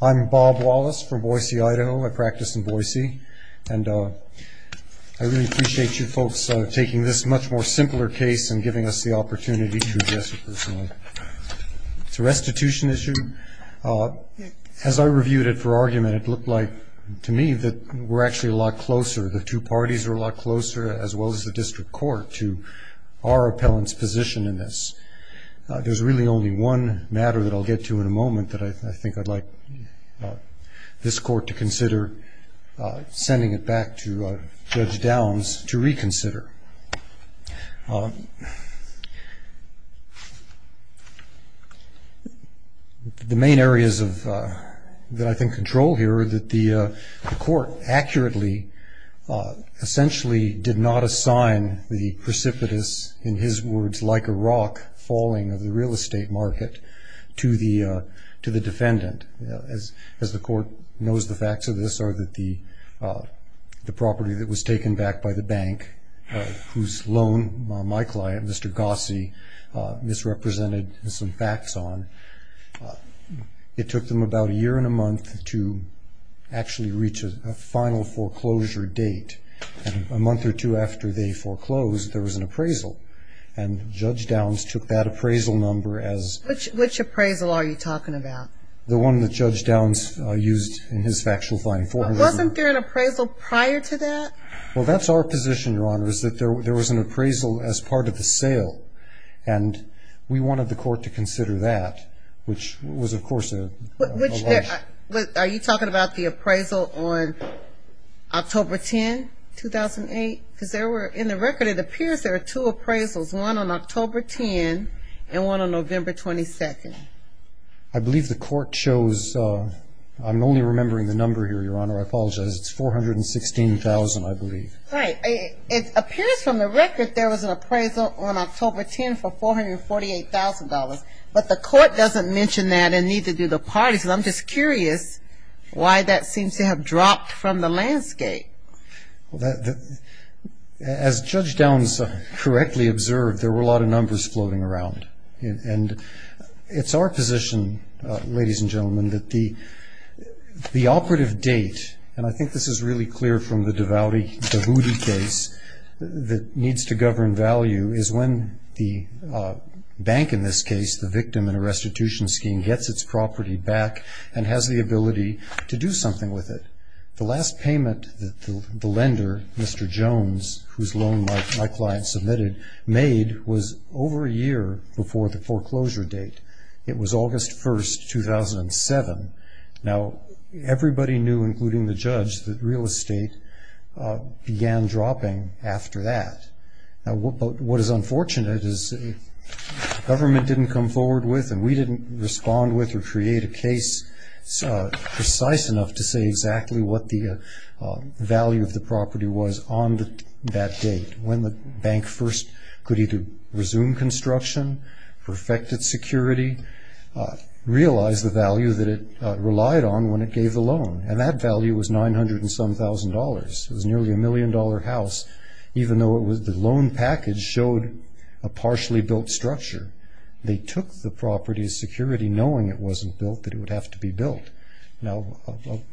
I'm Bob Wallace from Boise, Idaho. I practice in Boise, and I really appreciate you folks taking this much more simpler case and giving us the opportunity to address it personally. It's a restitution issue. As I reviewed it for argument, it looked like, to me, that we're actually a lot closer, the two parties are a lot closer, as well as the district court, to our appellant's position in this. There's really only one matter that I'll get to in a moment that I think I'd like this court to consider sending it back to Judge Downs to reconsider. The main areas that I think control here are that the court accurately, essentially, did not assign the precipitous, in his words, like a rock falling of the real estate market to the defendant. As the court knows the facts of this are that the property that was taken back by the bank, whose loan my client, Mr. Gossi, misrepresented some facts on, it took them about a year and a month to actually reach a final foreclosure date. A month or two after they foreclosed, there was an appraisal, and Judge Downs took that appraisal number as... Which appraisal are you talking about? The one that Judge Downs used in his factual finding. Wasn't there an appraisal prior to that? Well, that's our position, Your Honor, is that there was an appraisal as part of the sale, and we wanted the court to consider that, which was, of course, a rush. Are you talking about the appraisal on October 10, 2008? Because there were, in the record, it appears there were two appraisals, one on October 10 and one on November 22. I believe the court chose... I'm only remembering the number here, Your Honor. I apologize. It's $416,000, I believe. Right. It appears from the record there was an appraisal on October 10 for $448,000, but the court doesn't mention that, and neither do the parties, and I'm just curious why that seems to have dropped from the landscape. Well, as Judge Downs correctly observed, there were a lot of numbers floating around. And it's our position, ladies and gentlemen, that the operative date, and I think this is really clear from the Davuti case that needs to govern value, is when the bank, in this case, the victim in a restitution scheme, gets its property back and has the ability to do something with it. The last payment that the lender, Mr. Jones, whose loan my client submitted, made was over a year before the foreclosure date. It was August 1, 2007. Now, everybody knew, including the judge, that real estate began dropping after that. Now, what is unfortunate is the government didn't come forward with, and we didn't respond with or create a case precise enough to say exactly what the value of the property was on that date. When the bank first could either resume construction, perfect its security, realize the value that it relied on when it gave the loan, and that value was $907,000. It was nearly a million-dollar house, even though the loan package showed a partially built structure. They took the property's security, knowing it wasn't built, that it would have to be built. Now,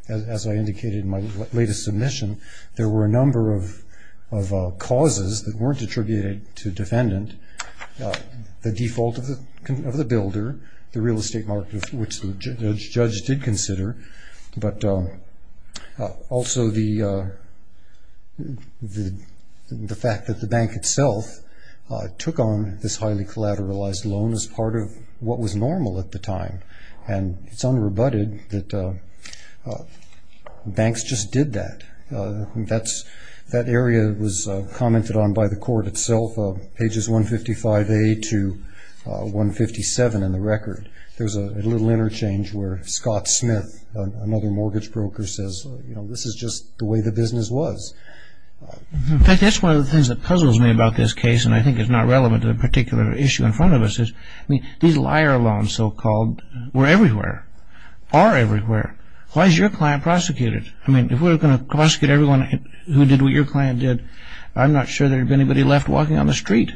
as I indicated in my latest submission, there were a number of causes that weren't attributed to defendant. The default of the builder, the real estate market, which the judge did consider, but also the fact that the bank itself took on this highly collateralized loan as part of what was normal at the time. And it's unrebutted that banks just did that. That area was commented on by the court itself, pages 155A to 157 in the record. There's a little interchange where Scott Smith, another mortgage broker, says, you know, this is just the way the business was. In fact, that's one of the things that puzzles me about this case, and I think it's not relevant to the particular issue in front of us. These liar loans, so-called, were everywhere, are everywhere. Why is your client prosecuted? I mean, if we're going to prosecute everyone who did what your client did, I'm not sure there'd be anybody left walking on the street.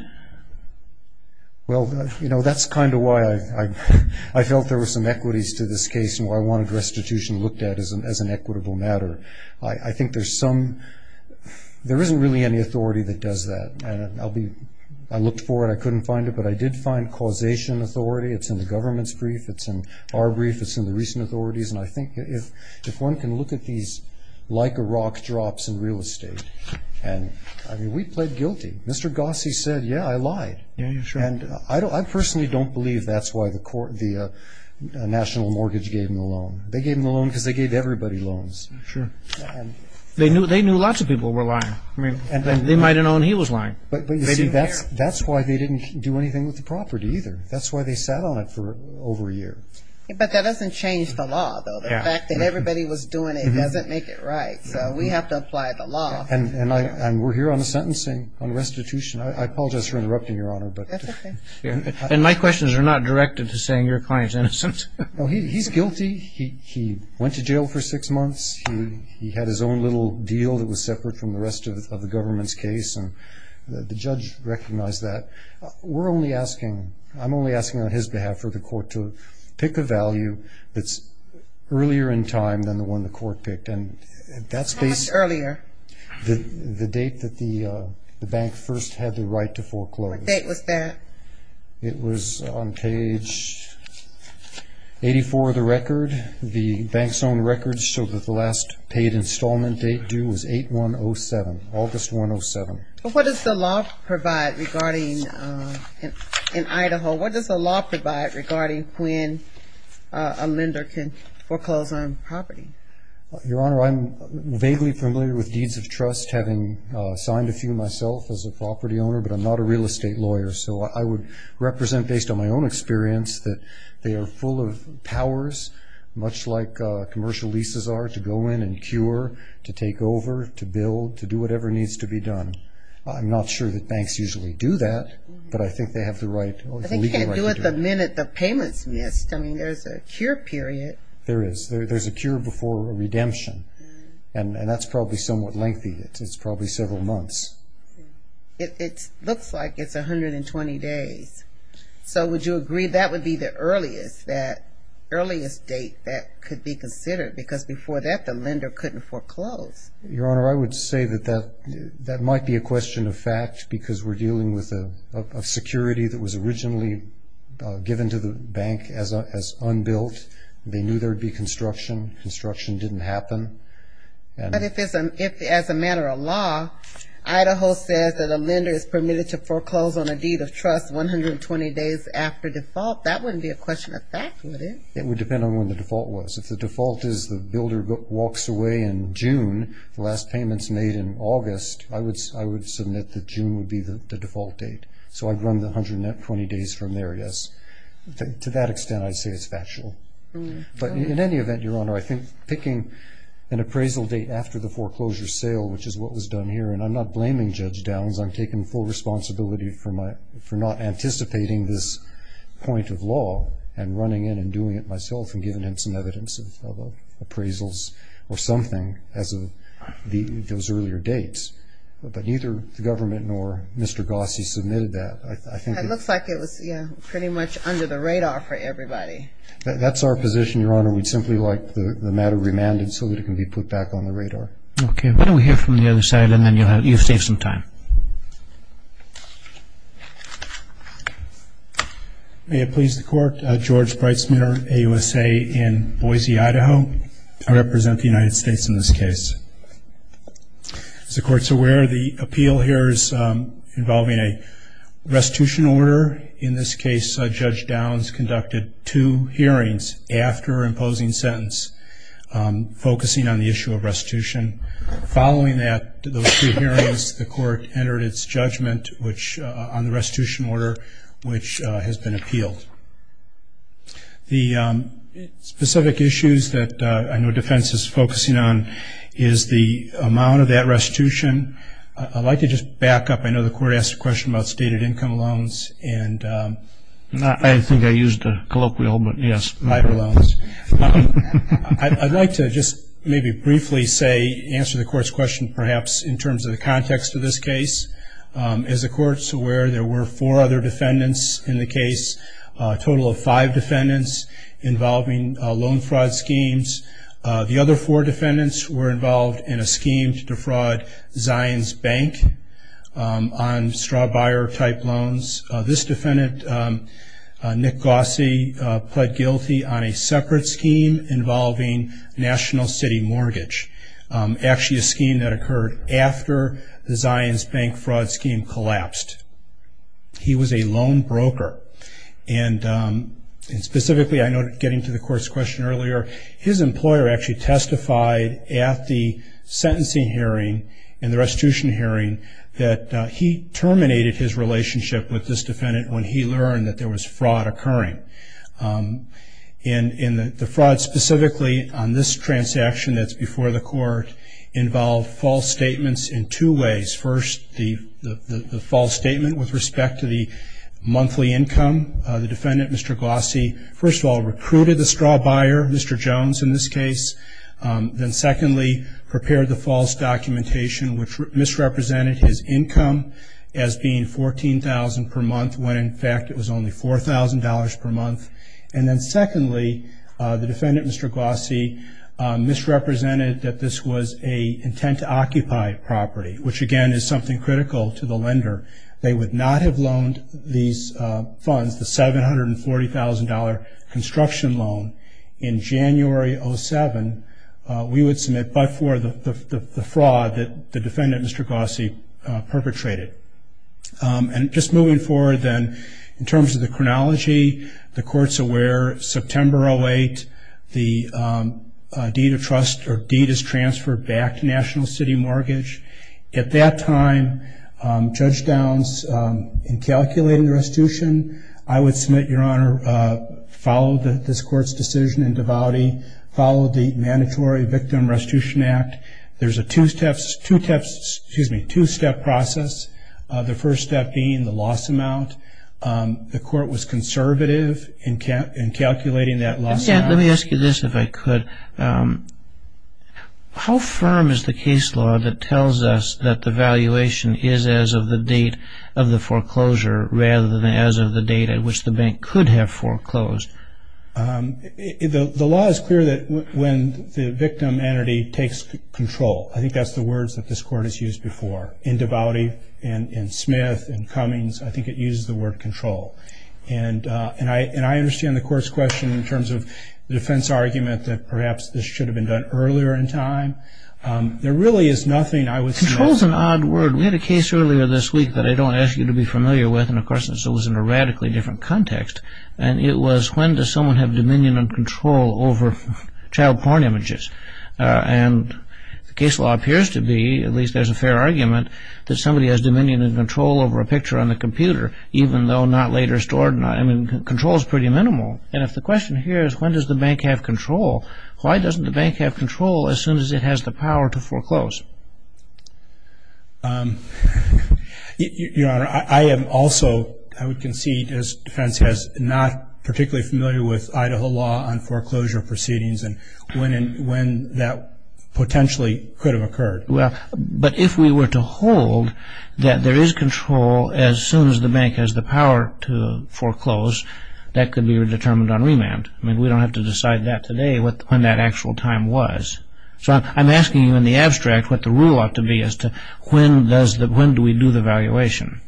Well, you know, that's kind of why I felt there were some equities to this case and why I wanted restitution looked at as an equitable matter. I think there's some – there isn't really any authority that does that, and I'll be – I looked for it. I couldn't find it, but I did find causation authority. It's in the government's brief. It's in our brief. It's in the recent authorities. And I think if one can look at these like-a-rock drops in real estate, and, I mean, we pled guilty. Mr. Gossie said, yeah, I lied. Yeah, sure. And I personally don't believe that's why the national mortgage gave him the loan. They gave him the loan because they gave everybody loans. Sure. They knew lots of people were lying. I mean, they might have known he was lying. But, you see, that's why they didn't do anything with the property either. That's why they sat on it for over a year. But that doesn't change the law, though. The fact that everybody was doing it doesn't make it right. So we have to apply the law. And we're here on the sentencing, on restitution. I apologize for interrupting, Your Honor. That's okay. And my questions are not directed to saying your client's innocent. No, he's guilty. He went to jail for six months. He had his own little deal that was separate from the rest of the government's case, and the judge recognized that. We're only asking, I'm only asking on his behalf for the court to pick a value that's earlier in time than the one the court picked. How much earlier? The date that the bank first had the right to foreclose. What date was that? It was on page 84 of the record. The bank's own records show that the last paid installment date due was 8-1-0-7, August 1-0-7. What does the law provide regarding in Idaho? What does the law provide regarding when a lender can foreclose on property? Your Honor, I'm vaguely familiar with Deeds of Trust, having signed a few myself as a property owner, but I'm not a real estate lawyer. So I would represent based on my own experience that they are full of powers, much like commercial leases are, to go in and cure, to take over, to build, to do whatever needs to be done. I'm not sure that banks usually do that, but I think they have the legal right to do it. But they can't do it the minute the payment's missed. I mean, there's a cure period. There is. There's a cure before a redemption, and that's probably somewhat lengthy. It's probably several months. It looks like it's 120 days. So would you agree that would be the earliest date that could be considered? Because before that, the lender couldn't foreclose. Your Honor, I would say that that might be a question of fact, because we're dealing with a security that was originally given to the bank as unbuilt. They knew there would be construction. Construction didn't happen. But if, as a matter of law, Idaho says that a lender is permitted to foreclose on a deed of trust 120 days after default, that wouldn't be a question of fact, would it? It would depend on when the default was. If the default is the builder walks away in June, the last payment's made in August, I would submit that June would be the default date. So I'd run the 120 days from there, yes. To that extent, I'd say it's factual. But in any event, Your Honor, I think picking an appraisal date after the foreclosure sale, which is what was done here, and I'm not blaming Judge Downs. I'm taking full responsibility for not anticipating this point of law and running in and doing it myself and giving him some evidence of appraisals or something as of those earlier dates. But neither the government nor Mr. Gossie submitted that. It looks like it was pretty much under the radar for everybody. That's our position, Your Honor. We'd simply like the matter remanded so that it can be put back on the radar. Okay. Why don't we hear from the other side, and then you'll save some time. May it please the Court. George Breitsmitter, AUSA, in Boise, Idaho. I represent the United States in this case. As the Court's aware, the appeal here is involving a restitution order. In this case, Judge Downs conducted two hearings after imposing sentence, focusing on the issue of restitution. Following those two hearings, the Court entered its judgment on the restitution order, which has been appealed. The specific issues that I know defense is focusing on is the amount of that restitution. I'd like to just back up. I know the Court asked a question about stated income loans. I think I used a colloquial, but yes. I'd like to just maybe briefly say, answer the Court's question, perhaps, in terms of the context of this case. As the Court's aware, there were four other defendants in the case, a total of five defendants involving loan fraud schemes. The other four defendants were involved in a scheme to defraud Zions Bank on straw-buyer-type loans. This defendant, Nick Gossie, pled guilty on a separate scheme involving national city mortgage, actually a scheme that occurred after the Zions Bank fraud scheme collapsed. He was a loan broker. Specifically, I noted getting to the Court's question earlier, his employer actually testified at the sentencing hearing and the restitution hearing that he terminated his relationship with this defendant when he learned that there was fraud occurring. The fraud, specifically on this transaction that's before the Court, involved false statements in two ways. First, the false statement with respect to the monthly income. The defendant, Mr. Gossie, first of all, recruited the straw buyer, Mr. Jones, in this case. Then secondly, prepared the false documentation, which misrepresented his income as being $14,000 per month, when in fact it was only $4,000 per month. And then secondly, the defendant, Mr. Gossie, misrepresented that this was an intent-to-occupy property, which again is something critical to the lender. They would not have loaned these funds, the $740,000 construction loan, in January 2007. We would submit but for the fraud that the defendant, Mr. Gossie, perpetrated. And just moving forward then, in terms of the chronology, the Court's aware September 08, the deed of trust or deed is transferred back to National City Mortgage. At that time, judge downs in calculating the restitution, I would submit, Your Honor, follow this Court's decision in devoutly, follow the mandatory Victim Restitution Act. There's a two-step process, the first step being the loss amount. The Court was conservative in calculating that loss amount. Let me ask you this, if I could. How firm is the case law that tells us that the valuation is as of the date of the foreclosure rather than as of the date at which the bank could have foreclosed? The law is clear that when the victim entity takes control, I think that's the words that this Court has used before. In devoutly, in Smith, in Cummings, I think it uses the word control. And I understand the Court's question in terms of the defense argument that perhaps this should have been done earlier in time. There really is nothing I would suggest. Control is an odd word. We had a case earlier this week that I don't ask you to be familiar with, and of course this was in a radically different context. And it was when does someone have dominion and control over child porn images? And the case law appears to be, at least there's a fair argument, that somebody has dominion and control over a picture on the computer, even though not later stored. I mean, control is pretty minimal. And if the question here is when does the bank have control, why doesn't the bank have control as soon as it has the power to foreclose? Your Honor, I am also, I would concede, as defense has, not particularly familiar with Idaho law on foreclosure proceedings and when that potentially could have occurred. Well, but if we were to hold that there is control as soon as the bank has the power to foreclose, that could be determined on remand. I mean, we don't have to decide that today when that actual time was. So I'm asking you in the abstract what the rule ought to be as to when do we do the valuation.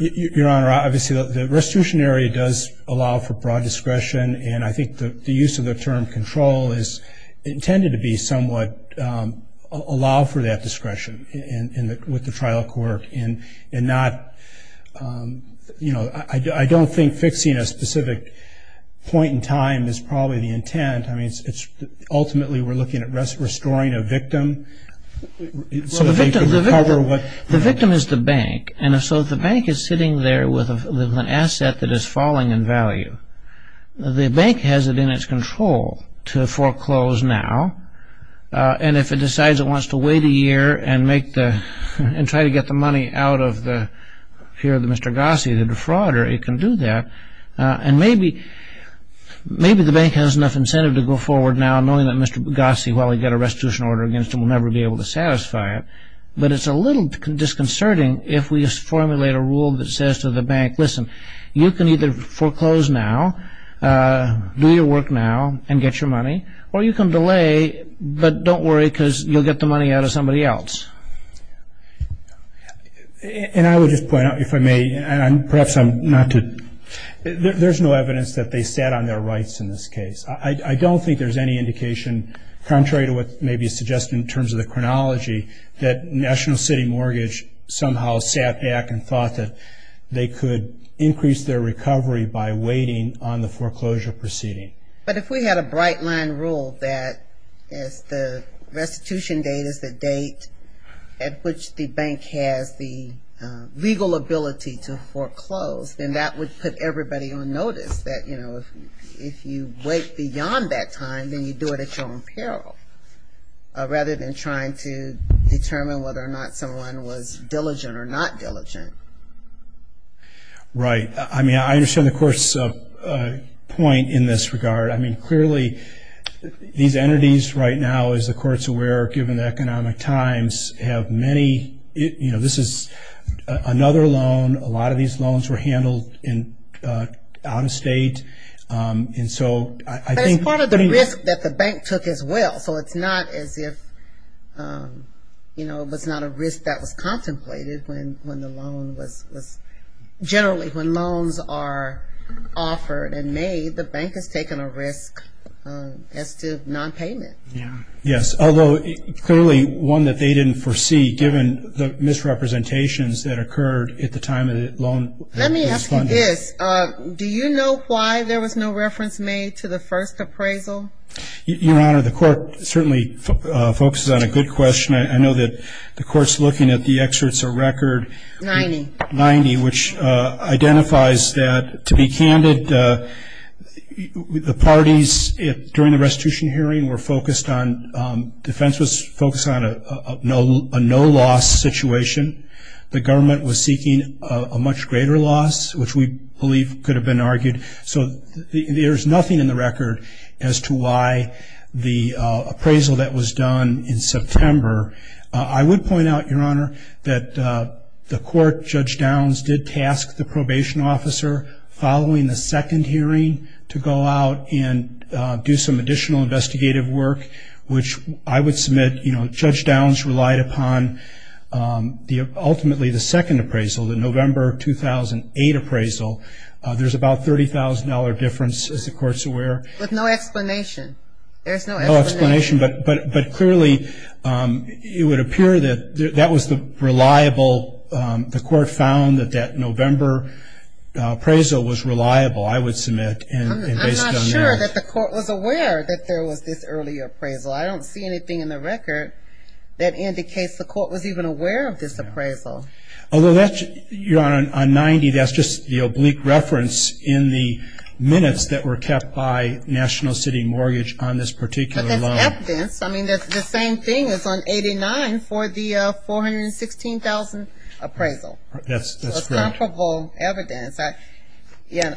Your Honor, obviously the restitution area does allow for broad discretion, and I think the use of the term control is intended to be somewhat, allow for that discretion with the trial court. And not, you know, I don't think fixing a specific point in time is probably the intent. I mean, ultimately we're looking at restoring a victim. So the victim is the bank, and so the bank is sitting there with an asset that is falling in value. The bank has it in its control to foreclose now, and if it decides it wants to wait a year and make the, and try to get the money out of the, here, Mr. Gossie, the defrauder, it can do that. And maybe the bank has enough incentive to go forward now, knowing that Mr. Gossie, while he got a restitution order against him, will never be able to satisfy it. But it's a little disconcerting if we formulate a rule that says to the bank, listen, you can either foreclose now, do your work now, and get your money, or you can delay, but don't worry because you'll get the money out of somebody else. And I would just point out, if I may, and perhaps I'm not to, there's no evidence that they sat on their rights in this case. I don't think there's any indication, contrary to what may be suggested in terms of the chronology, that National City Mortgage somehow sat back and thought that they could increase their recovery by waiting on the foreclosure proceeding. But if we had a bright line rule that the restitution date is the date at which the bank has the legal ability to foreclose, then that would put everybody on notice that, you know, if you wait beyond that time, then you do it at your own peril, rather than trying to determine whether or not someone was diligent or not diligent. Right. I mean, I understand the court's point in this regard. I mean, clearly, these entities right now, as the court's aware, given the economic times, have many, you know, this is another loan. A lot of these loans were handled out of state. And so I think... But it's part of the risk that the bank took as well. So it's not as if, you know, it was not a risk that was contemplated when the loan was... Generally, when loans are offered and made, the bank has taken a risk as to nonpayment. Yes. Although, clearly, one that they didn't foresee, given the misrepresentations that occurred at the time the loan was funded. Let me ask you this. Do you know why there was no reference made to the first appraisal? Your Honor, the court certainly focuses on a good question. I know that the court's looking at the excerpts of Record 90, which identifies that, to be candid, the parties during the restitution hearing were focused on... Defense was focused on a no-loss situation. The government was seeking a much greater loss, which we believe could have been argued. So there's nothing in the record as to why the appraisal that was done in September... I would point out, Your Honor, that the court, Judge Downs, did task the probation officer, following the second hearing, to go out and do some additional investigative work, which I would submit... You know, Judge Downs relied upon, ultimately, the second appraisal, the November 2008 appraisal. There's about a $30,000 difference, as the court's aware. But no explanation. There's no explanation. No explanation, but clearly it would appear that that was the reliable... The court found that that November appraisal was reliable, I would submit, and based on that... I'm not sure that the court was aware that there was this early appraisal. I don't see anything in the record that indicates the court was even aware of this appraisal. Although, Your Honor, on 90, that's just the oblique reference in the minutes that were kept by National City Mortgage on this particular loan. But that's evidence. I mean, the same thing is on 89 for the $416,000 appraisal. That's correct. So it's comparable evidence.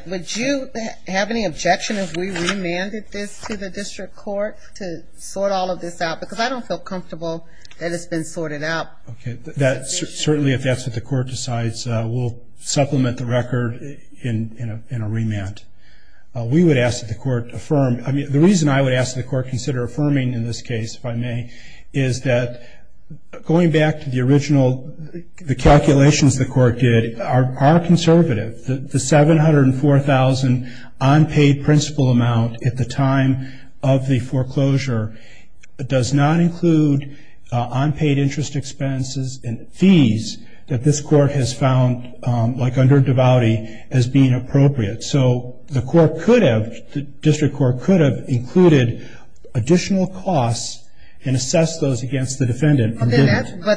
Would you have any objection if we remanded this to the district court to sort all of this out? Because I don't feel comfortable that it's been sorted out. Okay. Certainly if that's what the court decides, we'll supplement the record in a remand. We would ask that the court affirm. I mean, the reason I would ask that the court consider affirming in this case, if I may, is that going back to the original calculations the court did, our conservative, the $704,000 unpaid principal amount at the time of the foreclosure does not include unpaid interest expenses and fees that this court has found like under devoutly as being appropriate. So the court could have, the district court could have included additional costs and assessed those against the defendant. But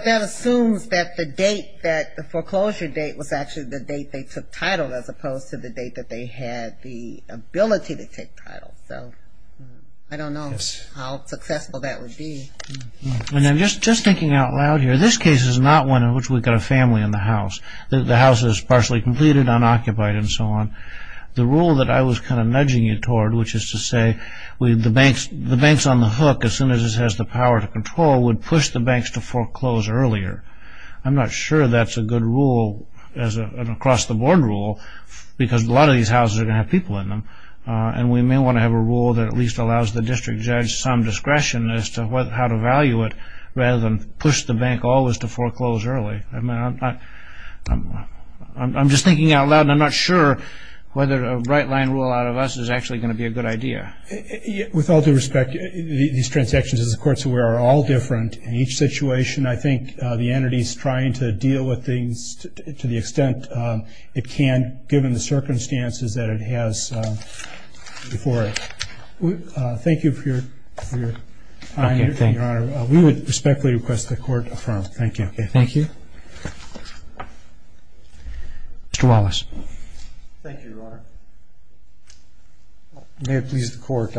that assumes that the date that the foreclosure date was actually the date they took title as opposed to the date that they had the ability to take title. So I don't know how successful that would be. Just thinking out loud here, this case is not one in which we've got a family in the house. The house is partially completed, unoccupied, and so on. The rule that I was kind of nudging you toward, which is to say the bank's on the hook as soon as it has the power to control, would push the banks to foreclose earlier. I'm not sure that's a good rule as an across-the-board rule because a lot of these houses are going to have people in them. And we may want to have a rule that at least allows the district judge some discretion as to how to value it rather than push the bank always to foreclose early. I mean, I'm just thinking out loud and I'm not sure whether a right-line rule out of us is actually going to be a good idea. With all due respect, these transactions, as the Court is aware, are all different. In each situation, I think the entity is trying to deal with things to the extent it can given the circumstances that it has before it. Thank you for your time, Your Honor. We would respectfully request the Court affirm. Thank you. Thank you. Mr. Wallace. Thank you, Your Honor. May it please the Court,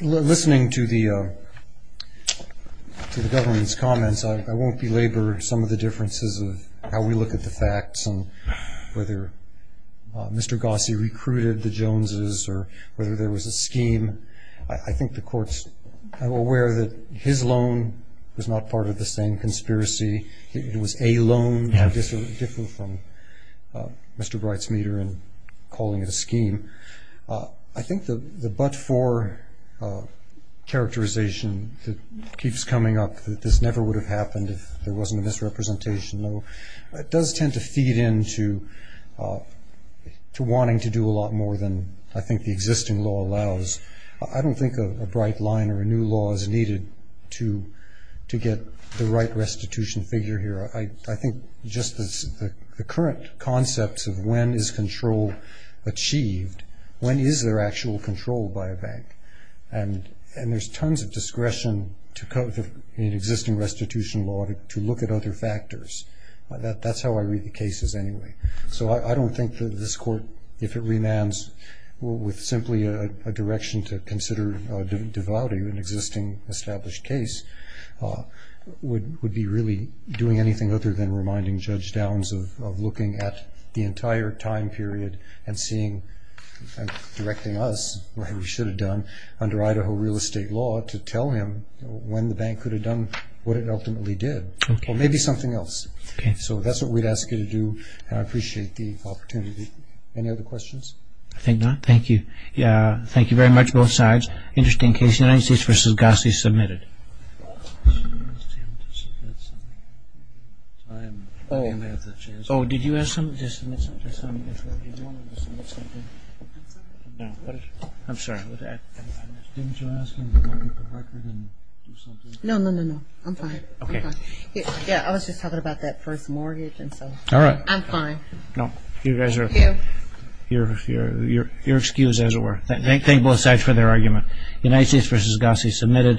listening to the government's comments, I won't belabor some of the differences of how we look at the facts and whether Mr. Gossie recruited the Joneses or whether there was a scheme. I think the Court's aware that his loan was not part of the same conspiracy. It was a loan. This would differ from Mr. Breit's meter in calling it a scheme. I think the but-for characterization that keeps coming up, that this never would have happened if there wasn't a misrepresentation, does tend to feed into wanting to do a lot more than I think the existing law allows. I don't think a bright line or a new law is needed to get the right restitution figure here. I think just the current concepts of when is control achieved, when is there actual control by a bank? And there's tons of discretion in existing restitution law to look at other factors. That's how I read the cases anyway. So I don't think that this Court, if it remands with simply a direction to consider devouting an existing established case, would be really doing anything other than reminding Judge Downs of looking at the entire time period and directing us, what we should have done under Idaho real estate law, to tell him when the bank could have done what it ultimately did or maybe something else. So that's what we'd ask you to do. I appreciate the opportunity. Any other questions? I think not. Thank you. Thank you very much, both sides. Interesting case, United States v. Gossie, submitted. Didn't you ask him to look at the record and do something? No, no, no, no. I'm fine. Okay. Yeah, I was just talking about that first mortgage. All right. I'm fine. No, you guys are... Thank you. You're excused, as it were. Thank you. Thank you. Thank you. Thank you. Thank you. Thank you. Thank you. Thank you. Thank you.